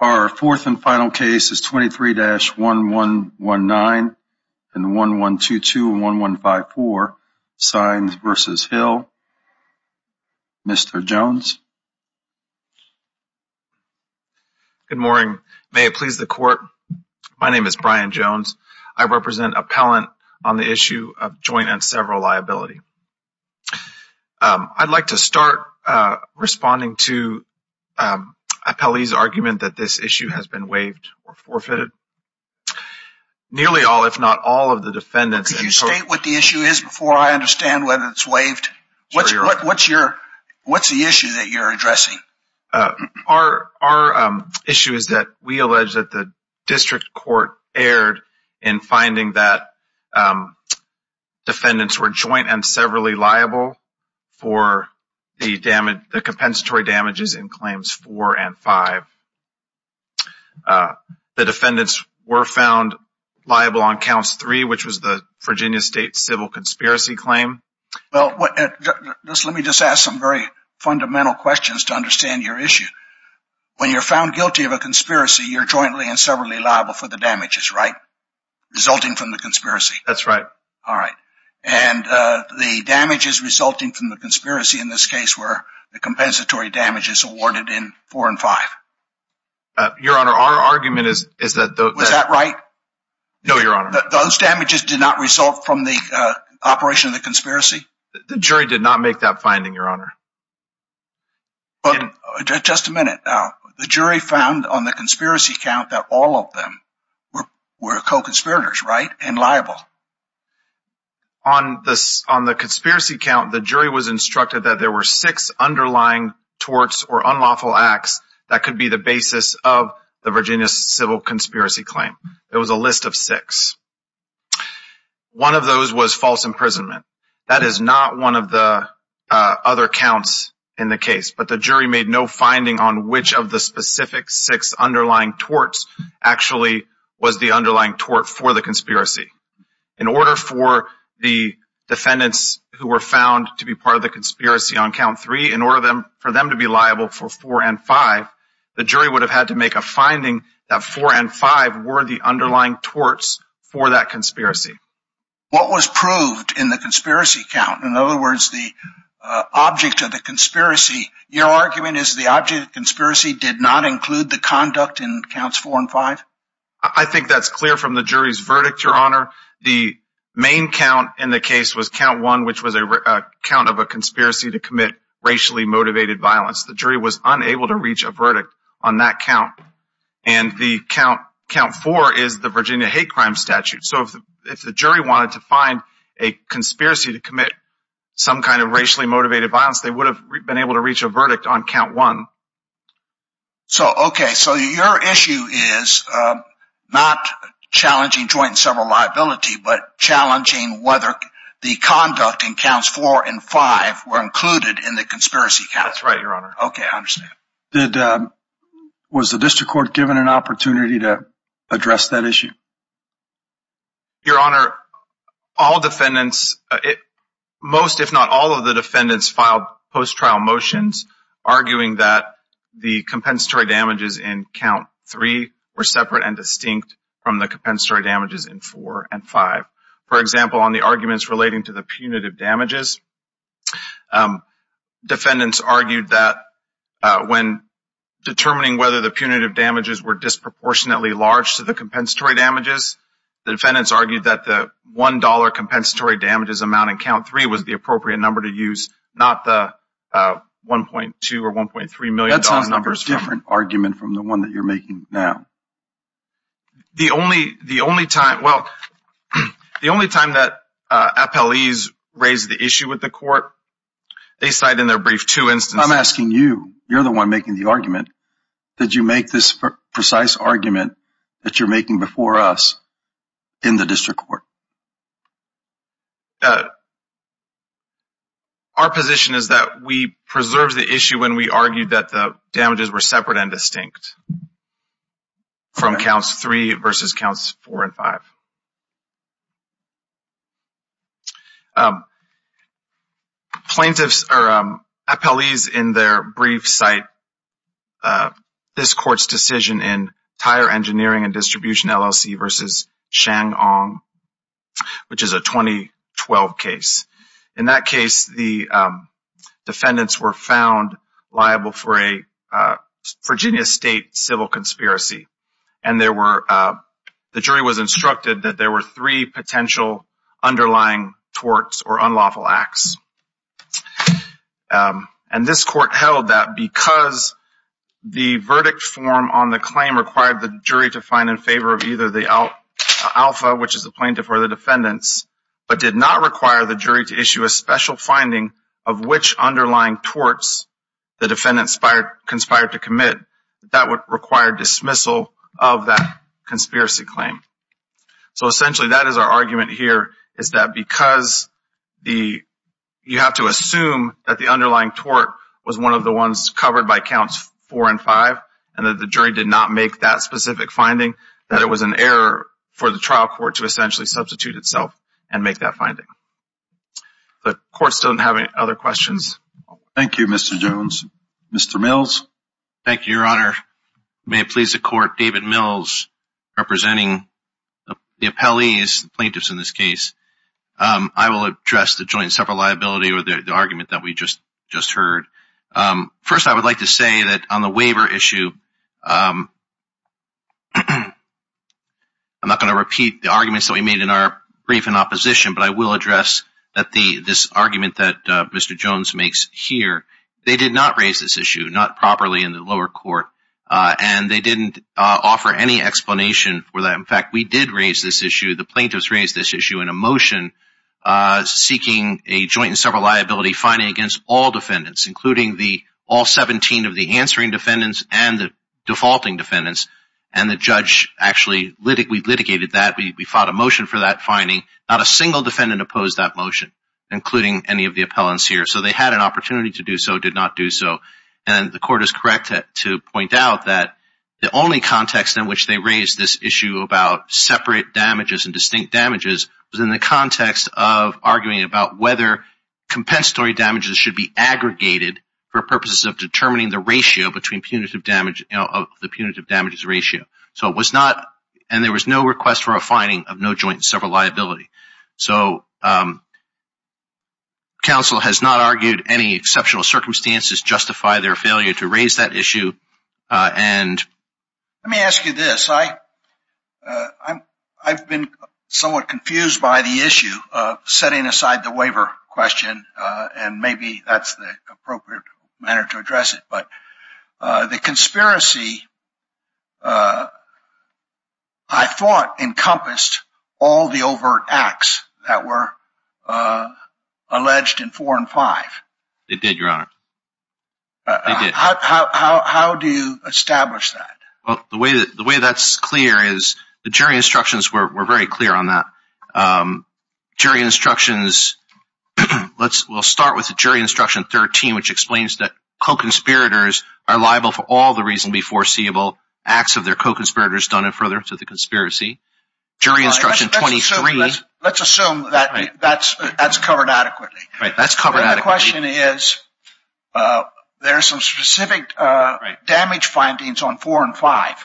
Our fourth and final case is 23-1119 and 1122-1154, Sines v. Hill. Mr. Jones. Brian Jones Good morning. May it please the court, my name is Brian Jones. I represent appellant on the issue of joint and several liability. I'd like to start responding to appellee's argument that this issue has been waived or forfeited. Nearly all if not all of the defendants... What's the issue that you're addressing? Our issue is that we allege that the district court erred in finding that defendants were joint and severally liable for the compensatory damages in claims four and five. The defendants were found liable on counts three, which was the Virginia State civil conspiracy claim. Well, let me just ask some very fundamental questions to understand your issue. When you're found guilty of a conspiracy, you're jointly and severally liable for the damages, right? Resulting from the conspiracy. That's right. All right. And the damages resulting from the conspiracy in this case were the compensatory damages awarded in four and five. Your Honor, our argument is that... Was that right? No, Your Honor. Those damages did not result from the operation of the conspiracy? The jury did not make that finding, Your Honor. Just a minute. The jury found on the conspiracy count that all of them were co-conspirators, right? And liable. On the conspiracy count, the jury was instructed that there were six underlying torts or unlawful acts that could be the basis of the Virginia civil conspiracy claim. It was a list of six. One of those was false imprisonment. That is not one of the other counts in the case, but the jury made no finding on which of the specific six underlying torts actually was the underlying tort for the conspiracy. In order for the defendants who were found to be part of the conspiracy on count three, in order for them to be liable for four and five, the jury would have had to make a finding that four and five were the underlying torts for that conspiracy. What was proved in the conspiracy count? In other words, the object of the conspiracy, your argument is the object of the conspiracy did not include the conduct in counts four and five? I think that's clear from the jury's verdict, Your Honor. The main count in the case was count one, which was a count of a conspiracy to commit racially motivated violence. The jury was unable to reach a verdict on that count. And the count four is the Virginia hate crime statute. So if the jury wanted to find a conspiracy to commit some kind of racially motivated violence, they would have been able to reach a verdict on count one. So okay, so your issue is not challenging joint and several liability, but challenging whether the conduct in counts four and five were included in the conspiracy count. That's right, Your Honor. Okay, I understand. Was the district court given an opportunity to address that issue? Your Honor, all defendants, most if not all of the defendants filed post-trial motions arguing that the compensatory damages in count three were separate and distinct from the compensatory damages in four and five. For example, on the arguments relating to the punitive damages, defendants argued that when determining whether the punitive damages were disproportionately large to the compensatory damages, the defendants argued that the $1 compensatory damages amount in count three was the appropriate number to use, not the $1.2 or $1.3 million numbers. That's a different argument from the one that you're making now. The only time that appellees raise the issue with the court, they cite in their brief two instances. I'm asking you. You're the one making the argument. Did you make this precise argument that you're making before us in the district court? Our position is that we preserved the issue when we argued that the damages were separate and distinct from counts three versus counts four and five. Plaintiffs or appellees in their brief cite this court's decision in Tire Engineering and Distribution, LLC versus Shang Ong, which is a 2012 case. In that case, the defendants were found liable for a Virginia state civil conspiracy. The jury was instructed that there were three potential underlying torts or unlawful acts. This court held that because the verdict form on the claim required the jury to find in to issue a special finding of which underlying torts the defendants conspired to commit, that would require dismissal of that conspiracy claim. Essentially, that is our argument here, is that because you have to assume that the underlying tort was one of the ones covered by counts four and five, and that the jury did not make that specific finding, that it was an error for the trial court to essentially substitute itself and make that finding. The court still doesn't have any other questions. Thank you, Mr. Jones. Mr. Mills? Thank you, Your Honor. May it please the court, David Mills, representing the appellees, the plaintiffs in this case. I will address the joint separate liability or the argument that we just heard. First I would like to say that on the waiver issue, I'm not going to repeat the arguments that we made in our brief in opposition, but I will address this argument that Mr. Jones makes here. They did not raise this issue, not properly in the lower court, and they didn't offer any explanation for that. In fact, we did raise this issue, the plaintiffs raised this issue in a motion seeking a joint and separate liability finding against all defendants, including all 17 of the answering defendants and the defaulting defendants, and the judge actually litigated that. We fought a motion for that finding. Not a single defendant opposed that motion, including any of the appellants here. So they had an opportunity to do so, did not do so. And the court is correct to point out that the only context in which they raised this issue about separate damages and distinct damages was in the context of arguing about whether compensatory damages should be aggregated for purposes of determining the ratio between punitive damage, the punitive damages ratio. So it was not, and there was no request for a finding of no joint and separate liability. So counsel has not argued any exceptional circumstances justify their failure to raise that issue. Let me ask you this, I've been somewhat confused by the issue of setting aside the waiver question, and maybe that's the appropriate manner to address it. But the conspiracy, I thought, encompassed all the overt acts that were alleged in four and five. They did, your honor. How do you establish that? The way that's clear is the jury instructions were very clear on that. Jury instructions, we'll start with jury instruction 13, which explains that co-conspirators are liable for all the reasonably foreseeable acts of their co-conspirators done in furtherance of the conspiracy. Jury instruction 23. Let's assume that's covered adequately. That's covered adequately. The question is, there's some specific damage findings on four and five.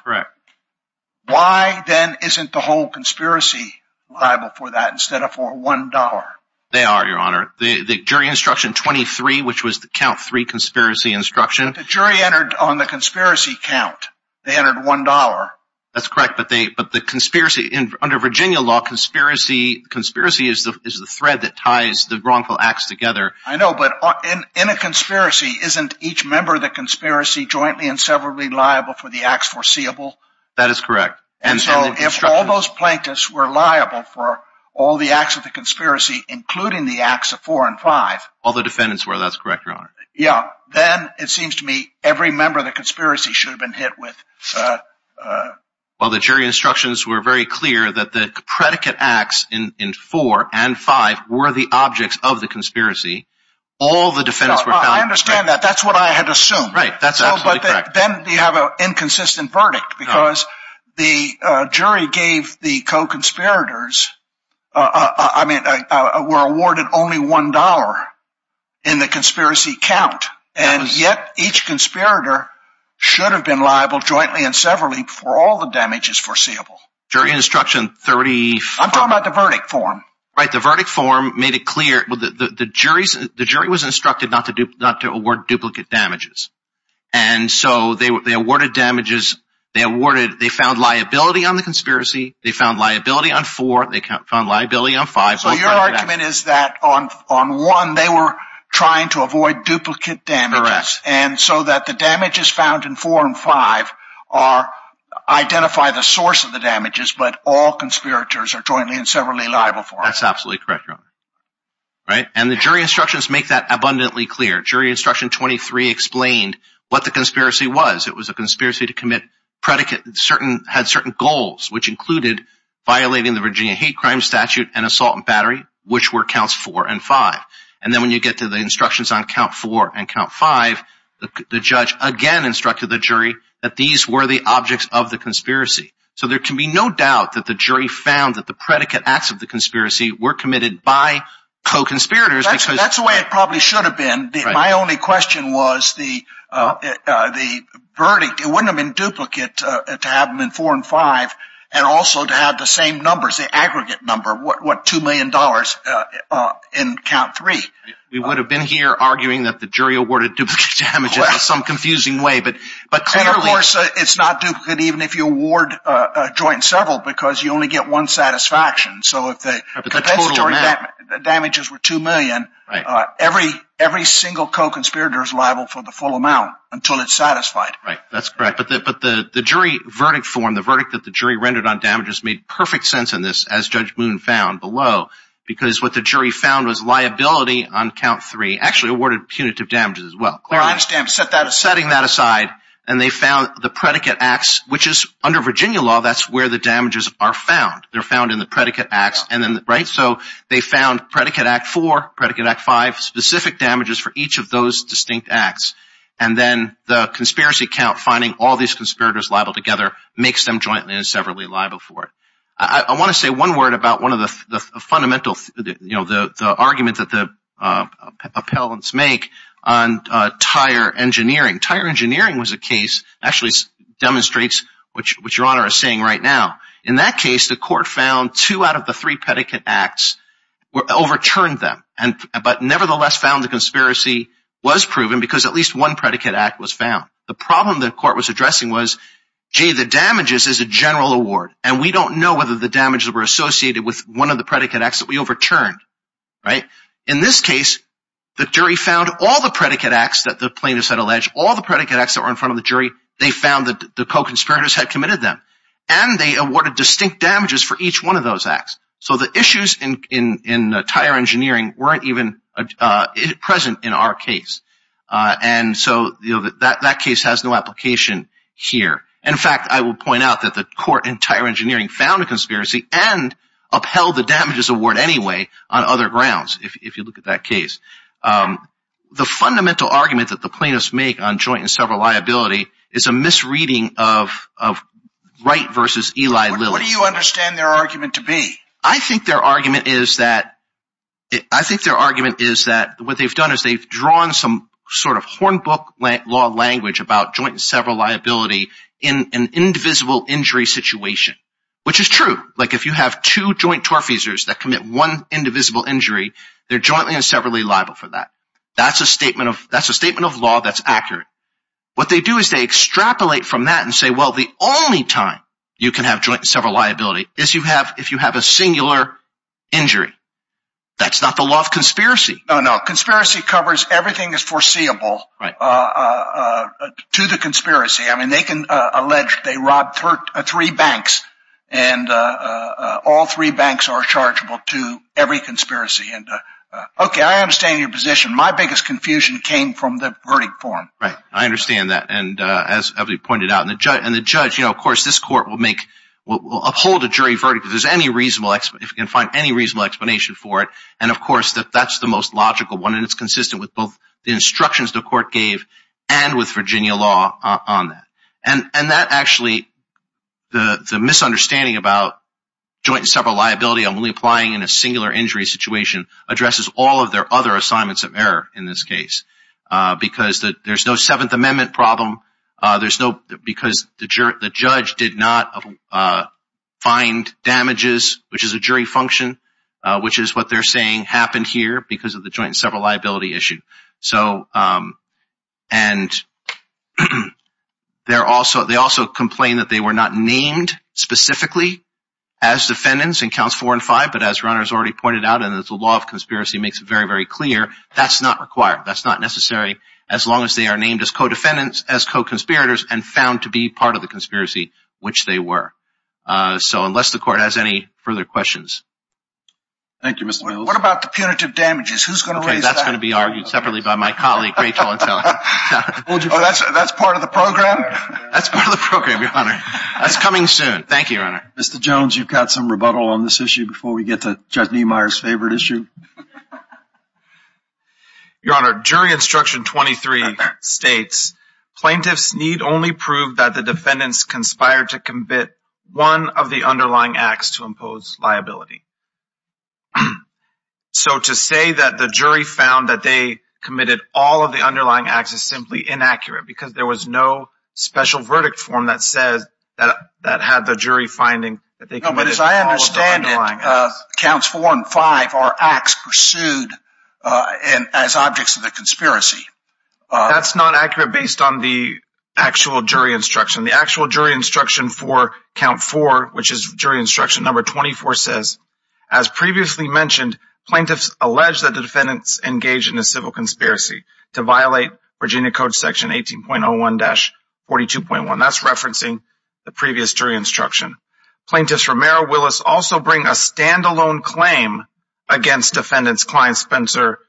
Why, then, isn't the whole conspiracy liable for that instead of for one dollar? They are, your honor. The jury instruction 23, which was the count three conspiracy instruction. The jury entered on the conspiracy count, they entered one dollar. That's correct. But the conspiracy, under Virginia law, conspiracy is the thread that ties the wrongful acts together. I know, but in a conspiracy, isn't each member of the conspiracy jointly and severally liable for the acts foreseeable? That is correct. And so, if all those plaintiffs were liable for all the acts of the conspiracy, including the acts of four and five. All the defendants were. That's correct, your honor. Yeah. Then, it seems to me, every member of the conspiracy should have been hit with. Well the jury instructions were very clear that the predicate acts in four and five were the objects of the conspiracy. All the defendants were. I understand that. That's what I had assumed. Right. That's absolutely correct. No, but then they have an inconsistent verdict because the jury gave the co-conspirators, I mean, were awarded only one dollar in the conspiracy count, and yet each conspirator should have been liable jointly and severally for all the damages foreseeable. Jury instruction 34. I'm talking about the verdict form. Right, the verdict form made it clear, the jury was instructed not to award duplicate damages. And so, they awarded damages, they found liability on the conspiracy, they found liability on four, they found liability on five. So your argument is that on one, they were trying to avoid duplicate damages, and so that the damages found in four and five identify the source of the damages, but all conspirators are jointly and severally liable for it. That's absolutely correct, your honor. And the jury instructions make that abundantly clear. Jury instruction 23 explained what the conspiracy was. It was a conspiracy to commit predicate, had certain goals, which included violating the Virginia hate crime statute and assault and battery, which were counts four and five. And then when you get to the instructions on count four and count five, the judge again instructed the jury that these were the objects of the conspiracy. So there can be no doubt that the jury found that the predicate acts of the conspiracy were committed by co-conspirators. That's the way it probably should have been. My only question was the verdict, it wouldn't have been duplicate to have them in four and five and also to have the same numbers, the aggregate number, what $2 million in count three. We would have been here arguing that the jury awarded duplicate damages in some confusing way, but clearly... And of course, it's not duplicate even if you award a joint several because you only get one satisfaction. So if the compensatory damages were $2 million, every single co-conspirator is liable for the full amount until it's satisfied. That's correct. But the jury verdict form, the verdict that the jury rendered on damages made perfect sense in this, as Judge Moon found below, because what the jury found was liability on count three, actually awarded punitive damages as well. I understand. Setting that aside, and they found the predicate acts, which is under Virginia law, that's where the damages are found. They're found in the predicate acts. So they found predicate act four, predicate act five, specific damages for each of those distinct acts. And then the conspiracy count finding all these conspirators liable together makes them jointly and severally liable for it. I want to say one word about one of the arguments that the appellants make on tire engineering. Tire engineering was a case, actually demonstrates what Your Honor is saying right now. In that case, the court found two out of the three predicate acts overturned them, but nevertheless found the conspiracy was proven because at least one predicate act was found. The problem the court was addressing was, gee, the damages is a general award, and we don't know whether the damages were associated with one of the predicate acts that we overturned. In this case, the jury found all the predicate acts that the plaintiffs had alleged, all the predicate acts that were in front of the jury, they found that the co-conspirators had committed them. And they awarded distinct damages for each one of those acts. So the issues in tire engineering weren't even present in our case. And so that case has no application here. In fact, I will point out that the court in tire engineering found a conspiracy and upheld the damages award anyway on other grounds, if you look at that case. The fundamental argument that the plaintiffs make on joint and several liability is a misreading of Wright versus Eli Lilly. What do you understand their argument to be? I think their argument is that what they've done is they've drawn some sort of horn book law language about joint and several liability in an indivisible injury situation, which is true. Like if you have two joint torfeasors that commit one indivisible injury, they're jointly and severally liable for that. That's a statement of law that's accurate. What they do is they extrapolate from that and say, well, the only time you can have joint and several liability is if you have a singular injury. That's not the law of conspiracy. No, no. Conspiracy covers everything that's foreseeable to the conspiracy. I mean, they can allege they robbed three banks and all three banks are chargeable to every conspiracy. Okay, I understand your position. My biggest confusion came from the verdict form. Right, I understand that. As Eveli pointed out, and the judge, of course, this court will uphold a jury verdict if there's any reasonable explanation for it. Of course, that's the most logical one and it's consistent with both the instructions the court gave and with Virginia law on that. That actually, the misunderstanding about joint and several liability only applying in a singular injury situation addresses all of their other assignments of error in this case because there's no Seventh Amendment problem, because the judge did not find damages, which is a jury function, which is what they're saying happened here because of the joint and several liability issue. They also complained that they were not named specifically as defendants in counts four and five, but as Ron has already pointed out and as the law of conspiracy makes it very, very clear, that's not required. That's not necessary as long as they are named as co-defendants, as co-conspirators and found to be part of the conspiracy, which they were. So unless the court has any further questions. Thank you, Mr. Mills. What about the punitive damages? Who's going to raise that? Okay, that's going to be argued separately by my colleague, Rachel. That's part of the program? That's part of the program, Your Honor. That's coming soon. Thank you, Your Honor. Mr. Jones, you've got some rebuttal on this issue before we get to Judge Niemeyer's favorite issue? Your Honor, Jury Instruction 23 states, plaintiffs need only prove that the defendants conspired to commit one of the underlying acts to impose liability. So to say that the jury found that they committed all of the underlying acts is simply inaccurate because there was no special verdict form that says that had the jury finding that they committed all of the underlying acts. No, but as I understand it, counts 4 and 5 are acts pursued as objects of the conspiracy. That's not accurate based on the actual jury instruction. The actual jury instruction for count 4, which is jury instruction number 24, says, as previously mentioned, plaintiffs allege that the defendants engaged in a civil conspiracy to violate Virginia Code Section 18.01-42.1. That's referencing the previous jury instruction. Plaintiffs for Merrill Willis also bring a stand-alone claim against defendants Cline Spencer,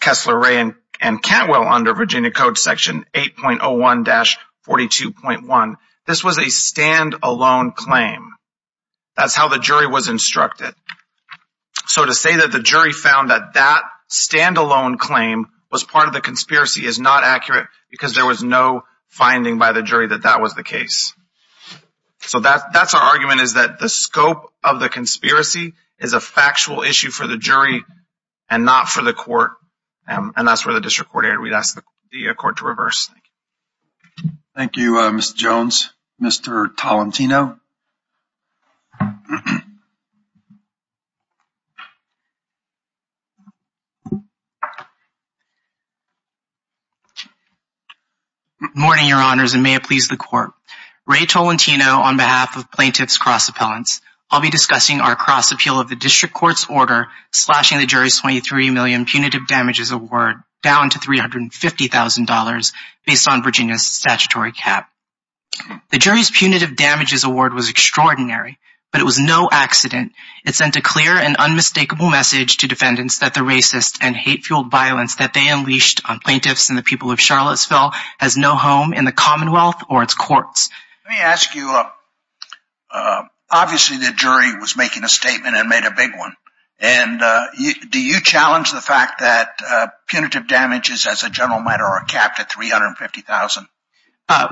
Kessler, Ray, and Cantwell under Virginia Code Section 8.01-42.1. This was a stand-alone claim. That's how the jury was instructed. So to say that the jury found that that stand-alone claim was part of the conspiracy is not accurate because there was no finding by the jury that that was the case. So that's our argument, is that the scope of the conspiracy is a factual issue for the jury and not for the court, and that's where the district court aired. We'd ask the court to reverse. Thank you. Thank you, Mr. Jones. Mr. Tolentino? Good morning, Your Honors, and may it please the court. Ray Tolentino on behalf of Plaintiffs Cross Appellants. I'll be discussing our cross appeal of the district court's order slashing the jury's $23 million punitive damages award down to $350,000 based on Virginia's statutory cap. The jury's punitive damages award was extraordinary, but it was no accident. It sent a clear and unmistakable message to defendants that the racist and hate-fueled violence that they unleashed on plaintiffs and the people of Charlottesville has no home in the Commonwealth or its courts. Let me ask you, obviously the jury was making a statement and made a big one, and do you challenge the fact that punitive damages as a general matter are capped at $350,000?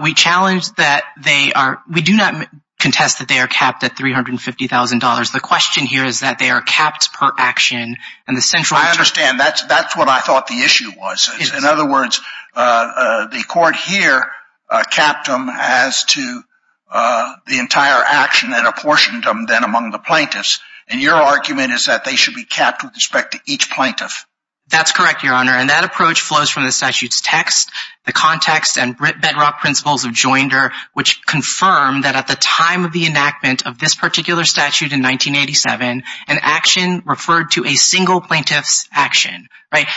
We challenge that they are... We do not contest that they are capped at $350,000. The question here is that they are capped per action, and the central... I understand. That's what I thought the issue was. In other words, the court here capped them as to the entire action that apportioned them then among the plaintiffs, and your argument is that they should be capped with respect to each plaintiff. That's correct, Your Honor, and that approach flows from the statute's text, the context, and bedrock principles of Joinder, which confirm that at the time of the enactment of this particular statute in 1987, an action referred to a single plaintiff's action.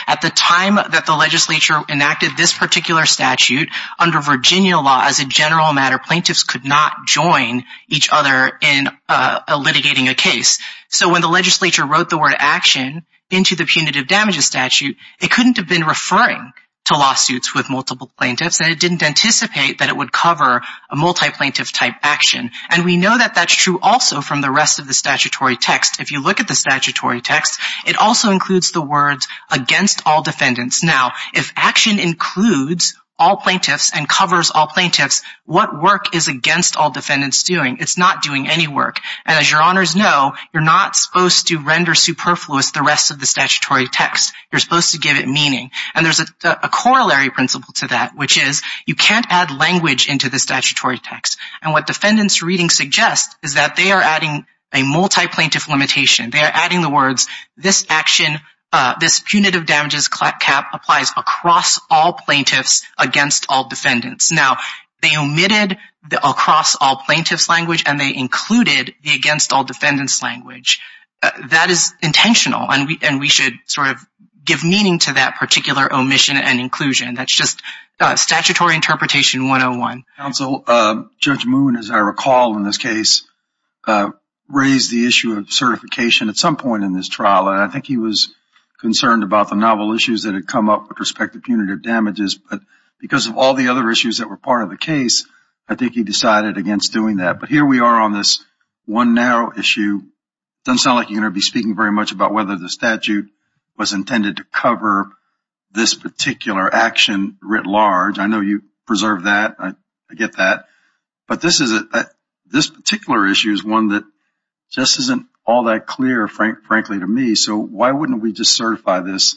At the time that the legislature enacted this particular statute, under Virginia law as a general matter, plaintiffs could not join each other in litigating a case. So when the legislature wrote the word action into the punitive damages statute, it couldn't have been referring to lawsuits with multiple plaintiffs, and it didn't anticipate that it would cover a multi-plaintiff type action, and we know that that's true also from the rest of the statutory text. If you look at the statutory text, it also includes the words against all defendants. Now, if action includes all plaintiffs and covers all plaintiffs, what work is against all defendants doing? It's not doing any work, and as Your Honors know, you're not supposed to render superfluous the rest of the statutory text. You're supposed to give it meaning. And there's a corollary principle to that, which is you can't add language into the statutory text. And what defendants' reading suggests is that they are adding a multi-plaintiff limitation. They are adding the words, this punitive damages cap applies across all plaintiffs against all defendants. Now, they omitted the across all plaintiffs language, and they included the against all defendants language. That is intentional, and we should sort of give meaning to that particular omission and inclusion. That's just statutory interpretation 101. Counsel, Judge Moon, as I recall in this case, raised the issue of certification at some point in this trial. And I think he was concerned about the novel issues that had come up with respect to punitive damages. But because of all the other issues that were part of the case, I think he decided against doing that. But here we are on this one narrow issue. It doesn't sound like you're going to be speaking very much about whether the statute was intended to cover this particular action writ large. I know you preserved that. I get that. But this particular issue is one that just isn't all that clear, frankly, to me. So why wouldn't we just certify this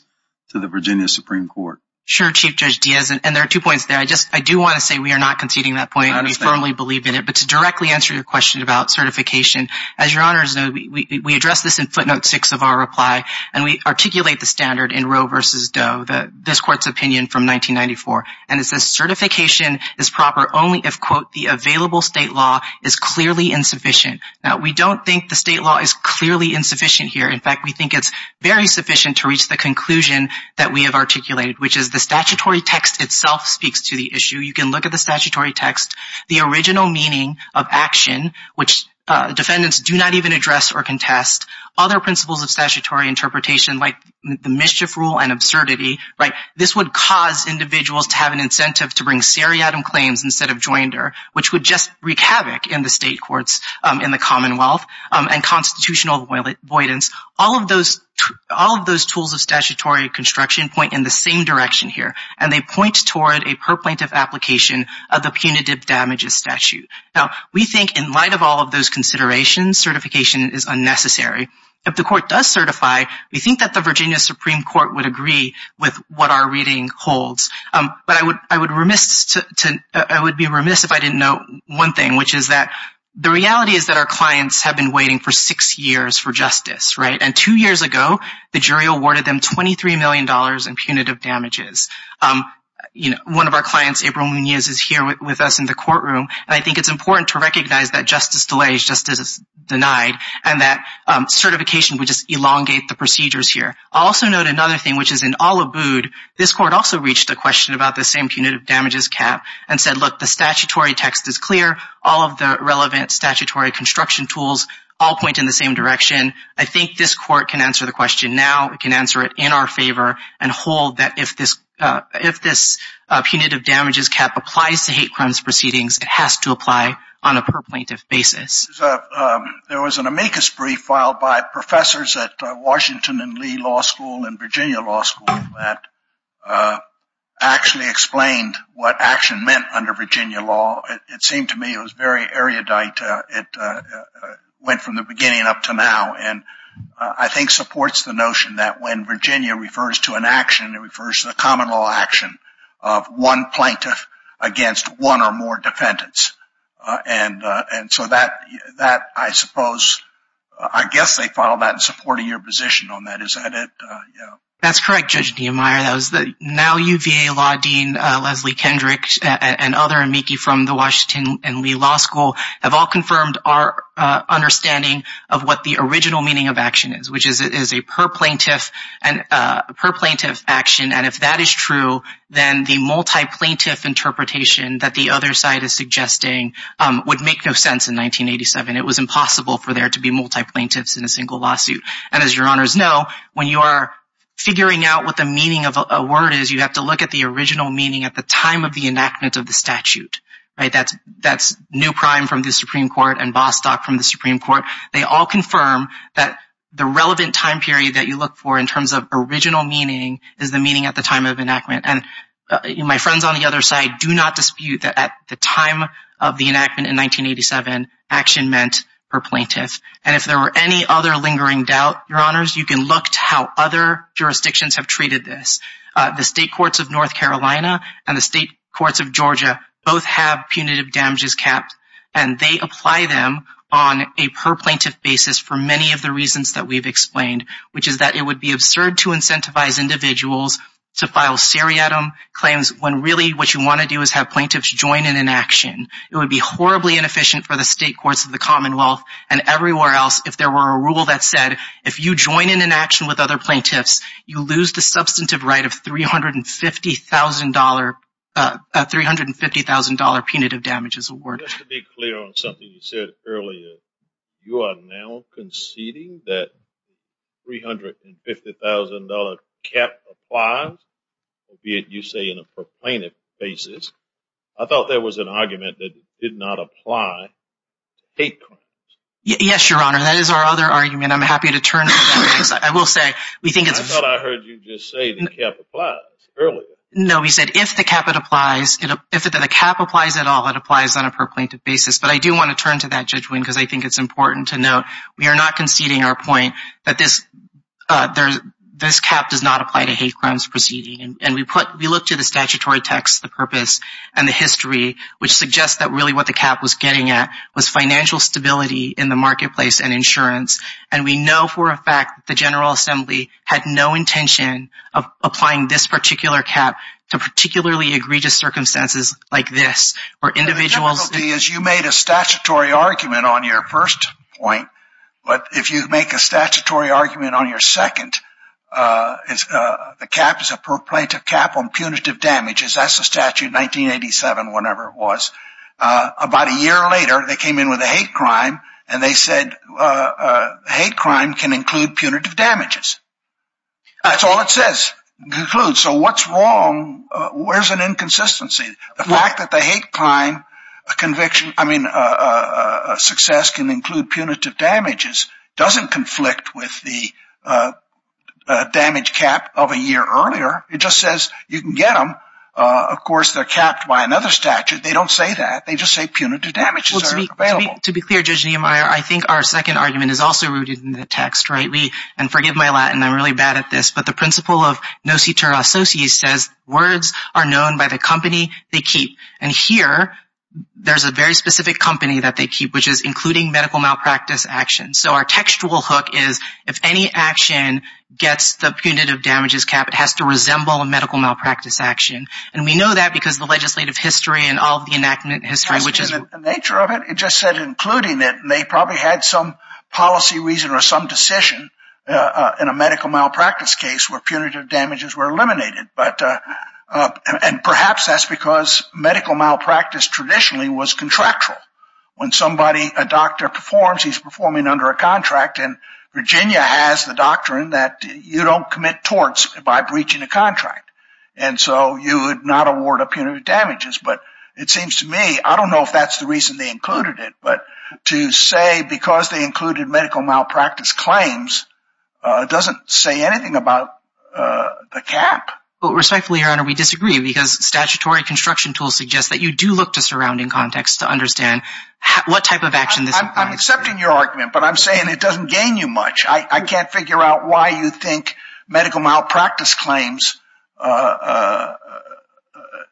to the Virginia Supreme Court? Sure, Chief Judge Diaz. And there are two points there. I do want to say we are not conceding that point. I firmly believe in it. But to directly answer your question about certification, as your honors know, we address this in footnote six of our reply. And we articulate the standard in Roe v. Doe, this court's opinion from 1994. And it says certification is proper only if, quote, the available state law is clearly insufficient. Now, we don't think the state law is clearly insufficient here. In fact, we think it's very sufficient to reach the conclusion that we have articulated, which is the statutory text itself speaks to the issue. You can look at the statutory text. The original meaning of action, which defendants do not even address or contest, other principles of statutory interpretation, like the mischief rule and absurdity, this would cause individuals to have an incentive to bring seriatim claims instead of joinder, which would just wreak havoc in the state courts, in the Commonwealth, and constitutional avoidance. All of those tools of statutory construction point in the same direction here. And they point toward a perplaintive application of the punitive damages statute. Now, we think in light of all of those considerations, certification is unnecessary. If the court does certify, we think that the Virginia Supreme Court would agree with what our reading holds. But I would be remiss if I didn't know one thing, which is that the reality is that our clients have been waiting for six years for justice, right? And two years ago, the jury awarded them $23 million in punitive damages. One of our clients, April Munoz, is here with us in the courtroom, and I think it's important to recognize that justice delays justice denied, and that certification would just elongate the procedures here. I'll also note another thing, which is in all abode, this court also reached a question about the same punitive damages cap and said, look, the statutory text is clear. All of the relevant statutory construction tools all point in the same direction. I think this court can answer the question now. It can answer it in our favor and hold that if this punitive damages cap applies to hate crimes proceedings, it has to apply on a perplaintive basis. There was an amicus brief filed by professors at Washington and Lee Law School and Virginia Law School that actually explained what action meant under Virginia law. It seemed to me it was very erudite. It went from the beginning up to now, and I think supports the notion that when Virginia refers to an action, it refers to the common law action of one plaintiff against one or more defendants, and so that, I suppose, I guess they follow that in supporting your position on that. Is that it? Yeah. That's correct, Judge Niemeyer. Now UVA Law Dean Leslie Kendrick and other amici from the Washington and Lee Law School have all confirmed our understanding of what the original meaning of action is, which is a perplaintiff action, and if that is true, then the multi-plaintiff interpretation that the other side is suggesting would make no sense in 1987. It was impossible for there to be multi-plaintiffs in a single lawsuit, and as your honors know, when you are figuring out what the meaning of a word is, you have to look at the original meaning at the time of the enactment of the statute. Right? That's New Prime from the Supreme Court and Bostock from the Supreme Court. They all confirm that the relevant time period that you look for in terms of original meaning is the meaning at the time of enactment, and my friends on the other side do not dispute that at the time of the enactment in 1987, action meant perplaintiff, and if there were any other lingering doubt, your honors, you can look to how other jurisdictions have treated this. The State Courts of North Carolina and the State Courts of Georgia both have punitive damages capped, and they apply them on a perplaintiff basis for many of the reasons that we've explained, which is that it would be absurd to incentivize individuals to file seriatim claims when really what you want to do is have plaintiffs join in an action. It would be horribly inefficient for the State Courts of the Commonwealth and everywhere else if there were a rule that said if you join in an action with other plaintiffs, you lose the substantive right of $350,000, $350,000 punitive damages awarded. Just to be clear on something you said earlier, you are now conceding that $350,000 cap applies, albeit you say in a perplaintiff basis. I thought there was an argument that it did not apply to hate crimes. Yes, your honor, that is our other argument. I'm happy to turn to that because I will say we think it's... I thought I heard you just say the cap applies earlier. No, we said if the cap applies at all, it applies on a perplaintiff basis, but I do want to turn to that, Judge Wynne, because I think it's important to note we are not conceding our point that this cap does not apply to hate crimes proceeding, and we look to the statutory text, the purpose, and the history, which suggests that really what the cap was getting at was financial stability in the marketplace and insurance, and we know for a fact the General Assembly had no intention of applying this particular cap to particularly egregious circumstances like this, where individuals... The difficulty is you made a statutory argument on your first point, but if you make a statutory argument on your second, the cap is a perplaintiff cap on punitive damages. That's the statute, 1987, whenever it was. About a year later, they came in with a hate crime, and they said hate crime can include punitive damages. That's all it says, includes. So what's wrong? Where's an inconsistency? The fact that the hate crime conviction, I mean, success can include punitive damages doesn't conflict with the damage cap of a year earlier. It just says you can get them. Of course, they're capped by another statute. They don't say that. They just say punitive damages are available. To be clear, Judge Niemeyer, I think our second argument is also rooted in the text, right? And forgive my Latin. I'm really bad at this. But the principle of nocitur associates says words are known by the company they keep. And here, there's a very specific company that they keep, which is including medical malpractice actions. So our textual hook is if any action gets the punitive damages cap, it has to resemble a medical malpractice action. And we know that because the legislative history and all of the enactment history, which is the nature of it. It just said including it. And they probably had some policy reason or some decision in a medical malpractice case where punitive damages were eliminated. And perhaps that's because medical malpractice traditionally was contractual. When somebody, a doctor, performs, he's performing under a contract. And Virginia has the doctrine that you don't commit torts by breaching a contract. And so you would not award a punitive damages. But it seems to me, I don't know if that's the reason they included it. But to say because they included medical malpractice claims doesn't say anything about the cap. Well, respectfully, Your Honor, we disagree because statutory construction tools suggest that you do look to surrounding context to understand what type of action this is. I'm accepting your argument, but I'm saying it doesn't gain you much. I can't figure out why you think medical malpractice claims,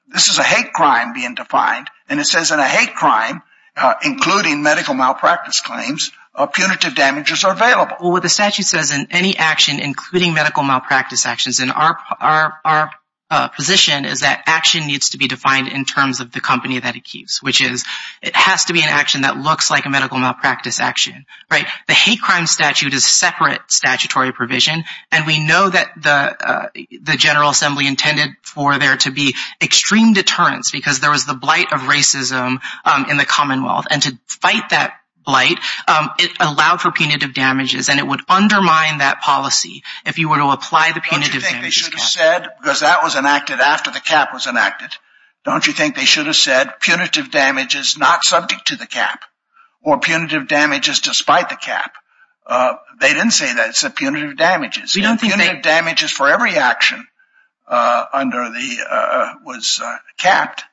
this is a hate crime being defined. And it says in a hate crime, including medical malpractice claims, punitive damages are available. Well, the statute says in any action, including medical malpractice actions, and our position is that action needs to be defined in terms of the company that it keeps, which is it has to be an action that looks like a medical malpractice action, right? The hate crime statute is separate statutory provision, and we know that the General Assembly intended for there to be extreme deterrence because there was the blight of racism in the Commonwealth. And to fight that blight, it allowed for punitive damages, and it would undermine that policy if you were to apply the punitive damages cap. Don't you think they should have said, because that was enacted after the cap was enacted, don't you think they should have said punitive damages not subject to the cap, or punitive damages despite the cap? They didn't say that. It said punitive damages. We don't think they... Punitive damages for every action under the... was capped.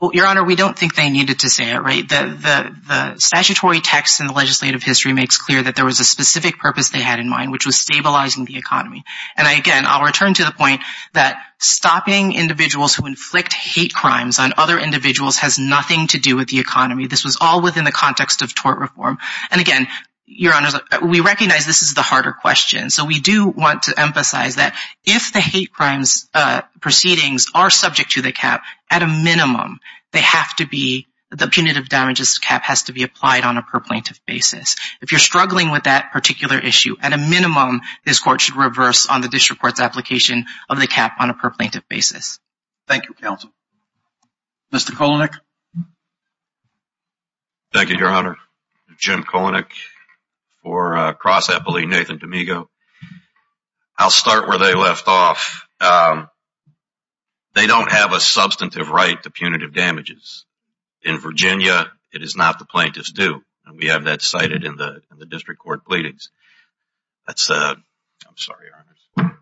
Well, Your Honor, we don't think they needed to say it, right? The statutory text in the legislative history makes clear that there was a specific purpose they had in mind, which was stabilizing the economy. And again, I'll return to the point that stopping individuals who inflict hate crimes on other individuals has nothing to do with the economy. This was all within the context of tort reform. And again, Your Honor, we recognize this is the harder question. So we do want to emphasize that if the hate crimes proceedings are subject to the cap, at a minimum, they have to be... the punitive damages cap has to be applied on a per-plaintiff basis. If you're struggling with that particular issue, at a minimum, this Court should reverse on the district court's application of the cap on a per-plaintiff basis. Thank you, Counsel. Mr. Kolenik? Thank you, Your Honor. Jim Kolenik for Cross Eppley, Nathan D'Amico. I'll start where they left off. They don't have a substantive right to punitive damages. In Virginia, it is not the plaintiffs' due. And we have that cited in the district court pleadings. That's... I'm sorry, Your Honor.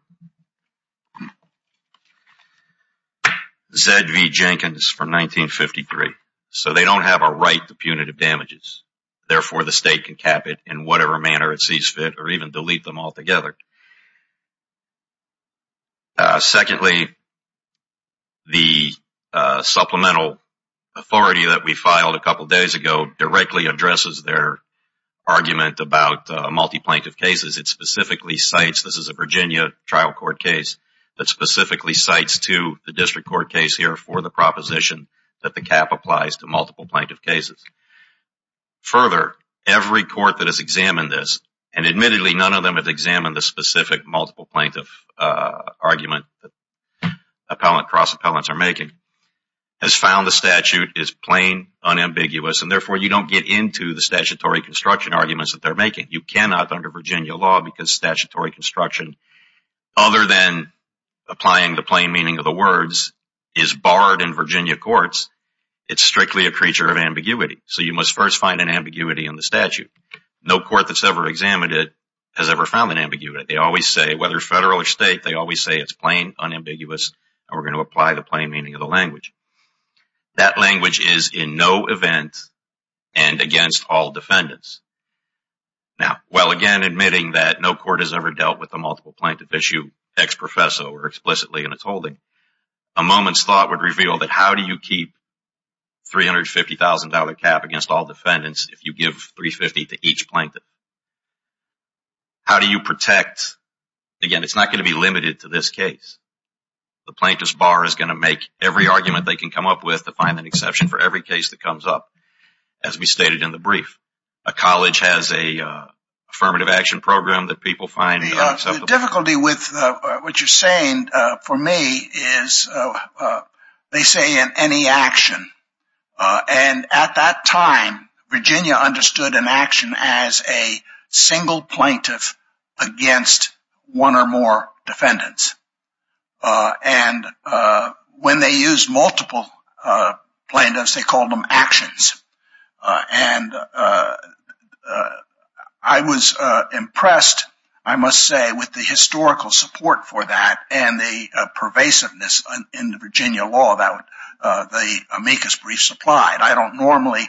Z.V. Jenkins from 1953. So they don't have a right to punitive damages. Therefore, the state can cap it in whatever manner it sees fit or even delete them altogether. Secondly, the supplemental authority that we filed a couple days ago directly addresses their argument about multi-plaintiff cases. It specifically cites, this is a Virginia trial court case, that specifically cites to the district court case here for the proposition that the cap applies to multiple plaintiff cases. Further, every court that has examined this, and admittedly none of them have examined the specific multiple plaintiff argument that cross-appellants are making, has found the statute is plain, unambiguous, and therefore you don't get into the statutory construction arguments that they're making. You cannot under Virginia law because statutory construction, other than applying the plain meaning of the words, is barred in Virginia courts. It's strictly a creature of ambiguity. So you must first find an ambiguity in the statute. No court that's ever examined it has ever found an ambiguity. They always say, whether federal or state, they always say it's plain, unambiguous, and we're going to apply the plain meaning of the language. That language is in no event and against all defendants. Now, while again admitting that no court has ever dealt with the multiple plaintiff issue ex-professo or explicitly in its holding, a moment's thought would reveal that how do you keep $350,000 cap against all defendants if you give $350,000 to each plaintiff? How do you protect, again, it's not going to be limited to this case. The plaintiff's bar is going to make every argument they can come up with to find an exception for every case that comes up, as we stated in the brief. A college has a affirmative action program that people find acceptable. The difficulty with what you're saying for me is they say in any action. And at that time, Virginia understood an action as a single plaintiff against one or more defendants. And when they used multiple plaintiffs, they called them actions. And I was impressed, I must say, with the historical support for that and the pervasiveness in the Virginia law that the amicus brief supplied. I don't normally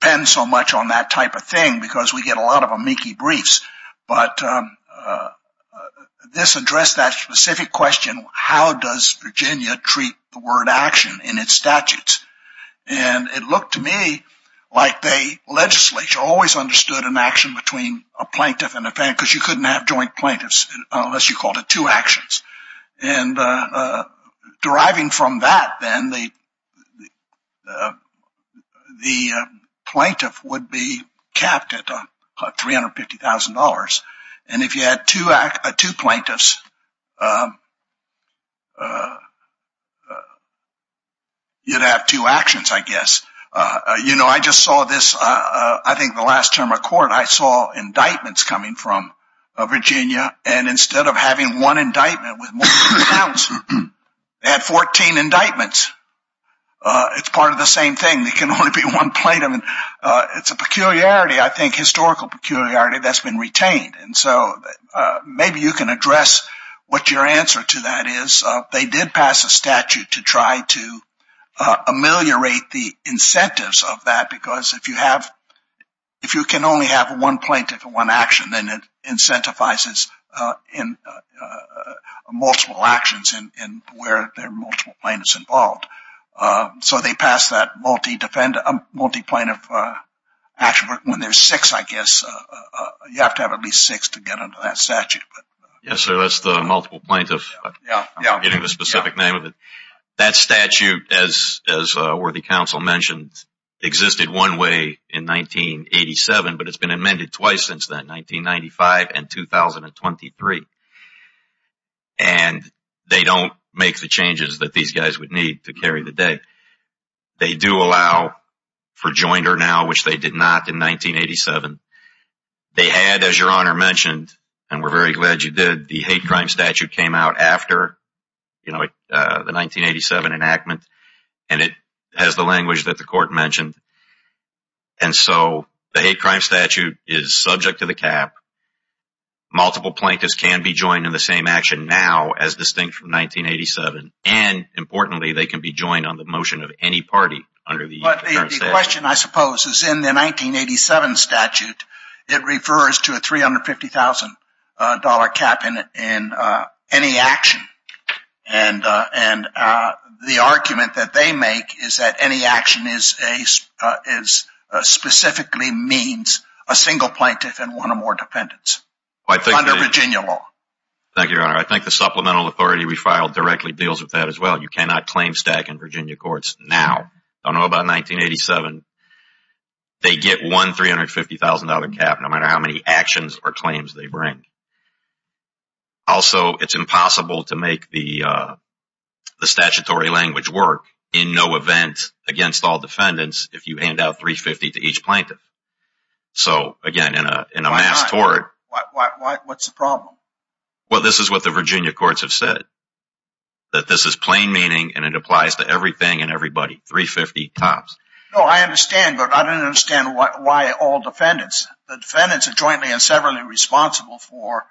depend so much on that type of thing because we get a lot of amici briefs. But this addressed that specific question, how does Virginia treat the word action in its statutes? And it looked to me like the legislature always understood an action between a plaintiff and a defendant because you couldn't have joint plaintiffs unless you called it two actions. And deriving from that, then, the plaintiff would be capped at $350,000. And if you had two plaintiffs, you'd have two actions, I guess. You know, I just saw this, I think the last term of court, I saw indictments coming from Virginia. And instead of having one indictment with multiple counts, they had 14 indictments. It's part of the same thing. There can only be one plaintiff. It's a peculiarity, I think, historical peculiarity that's been retained. And so maybe you can address what your answer to that is. They did pass a statute to try to ameliorate the incentives of that because if you can only have one plaintiff and one action, then it incentivizes multiple actions where there are multiple plaintiffs involved. So they passed that multi-plaintiff action when there's six, I guess. You have to have at least six to get under that statute. Yes, sir, that's the multiple plaintiff. I'm forgetting the specific name of it. That statute, as worthy counsel mentioned, existed one way in 1987, but it's been amended twice since then, 1995 and 2023. And they don't make the changes that these guys would need to carry the day. They do allow for joinder now, which they did not in 1987. They had, as your Honor mentioned, and we're very glad you did, the hate crime statute came out after the 1987 enactment, and it has the language that the Court mentioned. And so the hate crime statute is subject to the cap. Multiple plaintiffs can be joined in the same action now as distinct from 1987. And importantly, they can be joined on the motion of any party under the current statute. My question, I suppose, is in the 1987 statute, it refers to a $350,000 cap in any action. And the argument that they make is that any action specifically means a single plaintiff and one or more dependents under Virginia law. Thank you, Your Honor. I think the supplemental authority we filed directly deals with that as well. You cannot claim stack in Virginia courts now. I don't know about 1987. They get one $350,000 cap no matter how many actions or claims they bring. Also, it's impossible to make the statutory language work in no event against all defendants if you hand out $350,000 to each plaintiff. So, again, in a mass tort… Why not? What's the problem? Well, this is what the Virginia courts have said, that this is plain meaning and it applies to everything and everybody, $350,000. No, I understand, but I don't understand why all defendants. The defendants are jointly and severally responsible for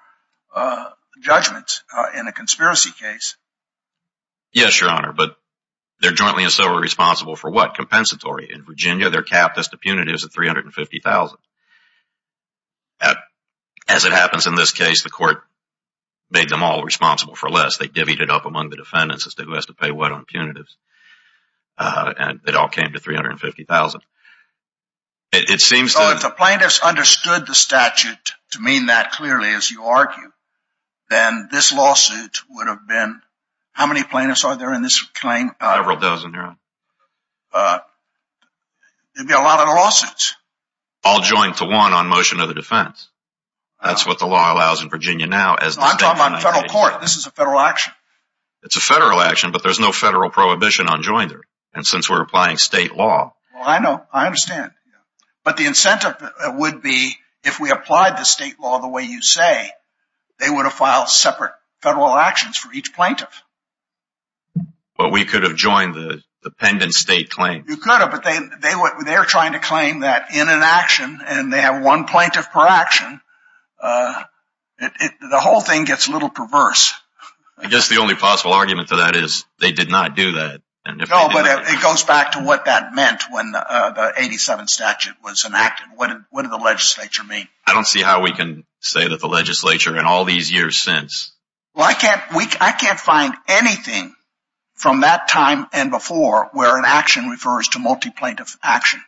judgments in a conspiracy case. Yes, Your Honor, but they're jointly and severally responsible for what? Compensatory. In Virginia, their cap is to punitive is $350,000. As it happens in this case, the court made them all responsible for less. They divvied it up among the defendants as to who has to pay what on punitives, and it all came to $350,000. If the plaintiffs understood the statute to mean that clearly, as you argue, then this lawsuit would have been… How many plaintiffs are there in this claim? Several dozen, Your Honor. It would be a lot of lawsuits. All joined to one on motion of the defense. That's what the law allows in Virginia now. I'm talking about the federal court. This is a federal action. It's a federal action, but there's no federal prohibition on joinder, and since we're applying state law… I know. I understand. But the incentive would be if we applied the state law the way you say, they would have filed separate federal actions for each plaintiff. But we could have joined the pendent state claim. You could have, but they're trying to claim that in an action, and they have one plaintiff per action. The whole thing gets a little perverse. I guess the only possible argument to that is they did not do that. No, but it goes back to what that meant when the 87 statute was enacted. What did the legislature mean? I don't see how we can say that the legislature in all these years since… I can't find anything from that time and before where an action refers to multi-plaintiff action.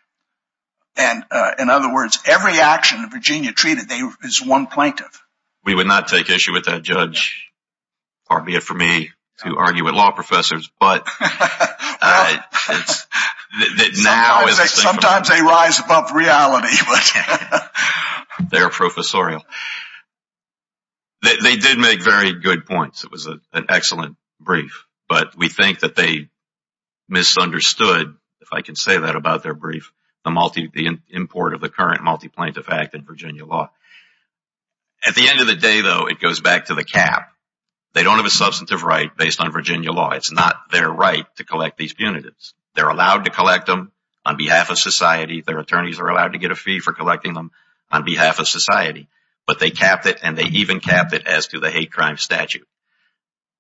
In other words, every action that Virginia treated is one plaintiff. We would not take issue with that, Judge. Pardon me for me to argue with law professors, but… Sometimes they rise above reality. They're professorial. They did make very good points. It was an excellent brief, but we think that they misunderstood, if I can say that about their brief, the import of the current multi-plaintiff act in Virginia law. At the end of the day, though, it goes back to the cap. They don't have a substantive right based on Virginia law. It's not their right to collect these punitives. They're allowed to collect them on behalf of society. Their attorneys are allowed to get a fee for collecting them on behalf of society. But they capped it, and they even capped it as to the hate crime statute.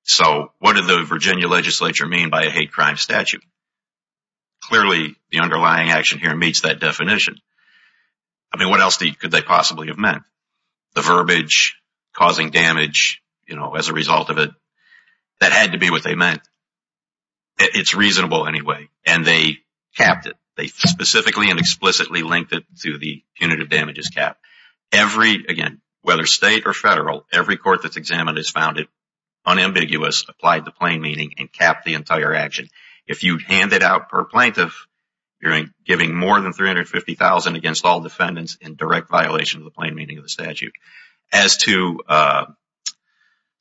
So what did the Virginia legislature mean by a hate crime statute? Clearly, the underlying action here meets that definition. I mean, what else could they possibly have meant? The verbiage, causing damage, you know, as a result of it. That had to be what they meant. It's reasonable anyway, and they capped it. They specifically and explicitly linked it to the punitive damages cap. Every, again, whether state or federal, every court that's examined has found it unambiguous, applied the plain meaning, and capped the entire action. If you hand it out per plaintiff, you're giving more than $350,000 against all defendants in direct violation of the plain meaning of the statute. As to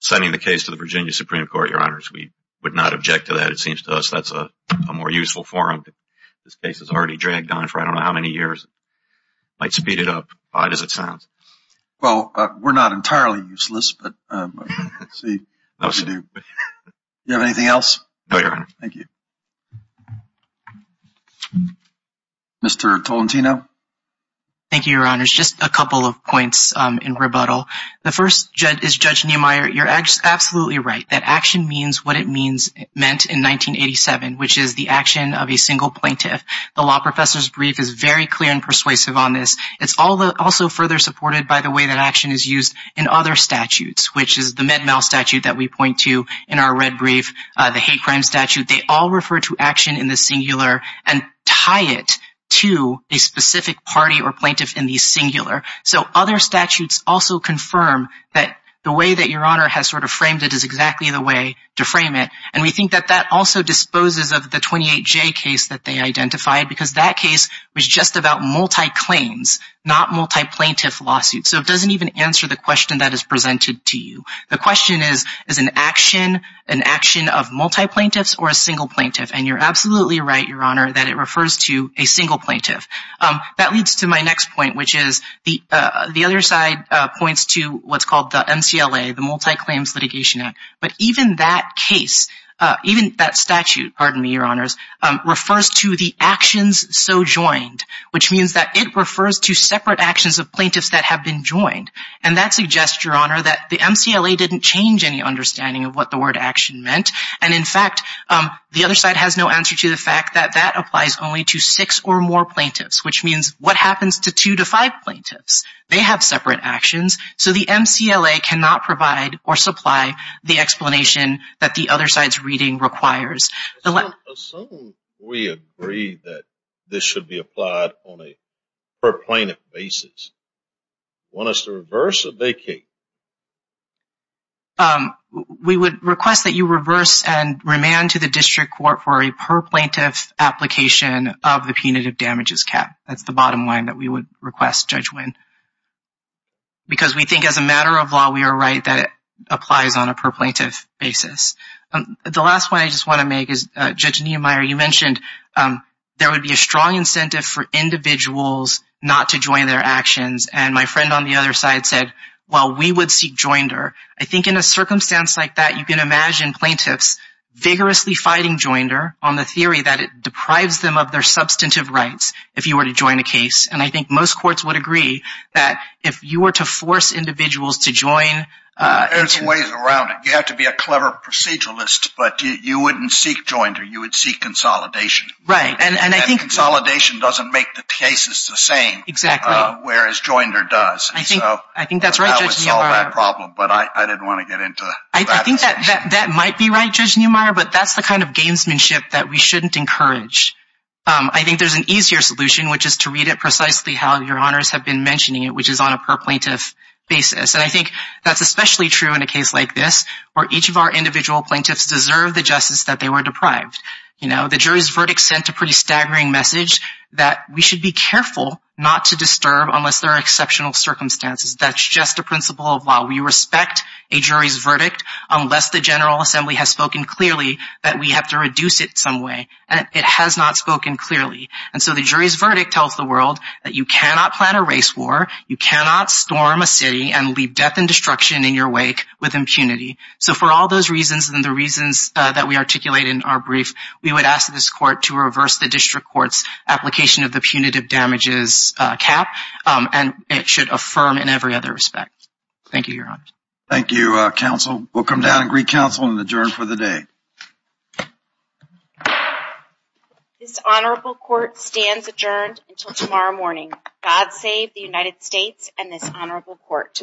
sending the case to the Virginia Supreme Court, Your Honors, we would not object to that, it seems to us. That's a more useful forum. This case has already dragged on for I don't know how many years. Might speed it up, odd as it sounds. Well, we're not entirely useless, but let's see if we do. Do you have anything else? No, Your Honor. Thank you. Mr. Tolentino? Thank you, Your Honors. Just a couple of points in rebuttal. The first is Judge Niemeyer, you're absolutely right. That action means what it meant in 1987, which is the action of a single plaintiff. The law professor's brief is very clear and persuasive on this. It's also further supported by the way that action is used in other statutes, which is the Med-Mal statute that we point to in our red brief, the hate crime statute. They all refer to action in the singular and tie it to a specific party or plaintiff in the singular. So other statutes also confirm that the way that Your Honor has sort of framed it is exactly the way to frame it. And we think that that also disposes of the 28J case that they identified because that case was just about multi-claims, not multi-plaintiff lawsuits. So it doesn't even answer the question that is presented to you. The question is, is an action an action of multi-plaintiffs or a single plaintiff? And you're absolutely right, Your Honor, that it refers to a single plaintiff. That leads to my next point, which is the other side points to what's called the MCLA, the Multi-Claims Litigation Act. But even that case, even that statute, pardon me, Your Honors, refers to the actions so joined, which means that it refers to separate actions of plaintiffs that have been joined. And that suggests, Your Honor, that the MCLA didn't change any understanding of what the word action meant. And, in fact, the other side has no answer to the fact that that applies only to six or more plaintiffs, which means what happens to two to five plaintiffs? They have separate actions. So the MCLA cannot provide or supply the explanation that the other side's reading requires. Assume we agree that this should be applied on a per-plaintiff basis. Want us to reverse or vacate? We would request that you reverse and remand to the district court for a per-plaintiff application of the punitive damages cap. That's the bottom line that we would request, Judge Winn. Because we think, as a matter of law, we are right that it applies on a per-plaintiff basis. The last point I just want to make is, Judge Niemeyer, you mentioned there would be a strong incentive for individuals not to join their actions. And my friend on the other side said, well, we would seek joinder. I think in a circumstance like that, you can imagine plaintiffs vigorously fighting joinder on the theory that it deprives them of their substantive rights if you were to join a case. And I think most courts would agree that if you were to force individuals to join. There's ways around it. I think you have to be a clever proceduralist, but you wouldn't seek joinder, you would seek consolidation. Right. And I think consolidation doesn't make the cases the same. Exactly. Whereas joinder does. I think that's right, Judge Niemeyer. But I didn't want to get into that. I think that might be right, Judge Niemeyer, but that's the kind of gamesmanship that we shouldn't encourage. I think there's an easier solution, which is to read it precisely how your honors have been mentioning it, which is on a per-plaintiff basis. And I think that's especially true in a case like this where each of our individual plaintiffs deserve the justice that they were deprived. The jury's verdict sent a pretty staggering message that we should be careful not to disturb unless there are exceptional circumstances. That's just a principle of law. We respect a jury's verdict unless the General Assembly has spoken clearly that we have to reduce it some way. It has not spoken clearly. And so the jury's verdict tells the world that you cannot plan a race war, you cannot storm a city and leave death and destruction in your wake with impunity. So for all those reasons and the reasons that we articulate in our brief, we would ask this court to reverse the district court's application of the punitive damages cap, and it should affirm in every other respect. Thank you, Your Honors. Thank you, Counsel. We'll come down and greet Counsel and adjourn for the day. This honorable court stands adjourned until tomorrow morning. God save the United States and this honorable court.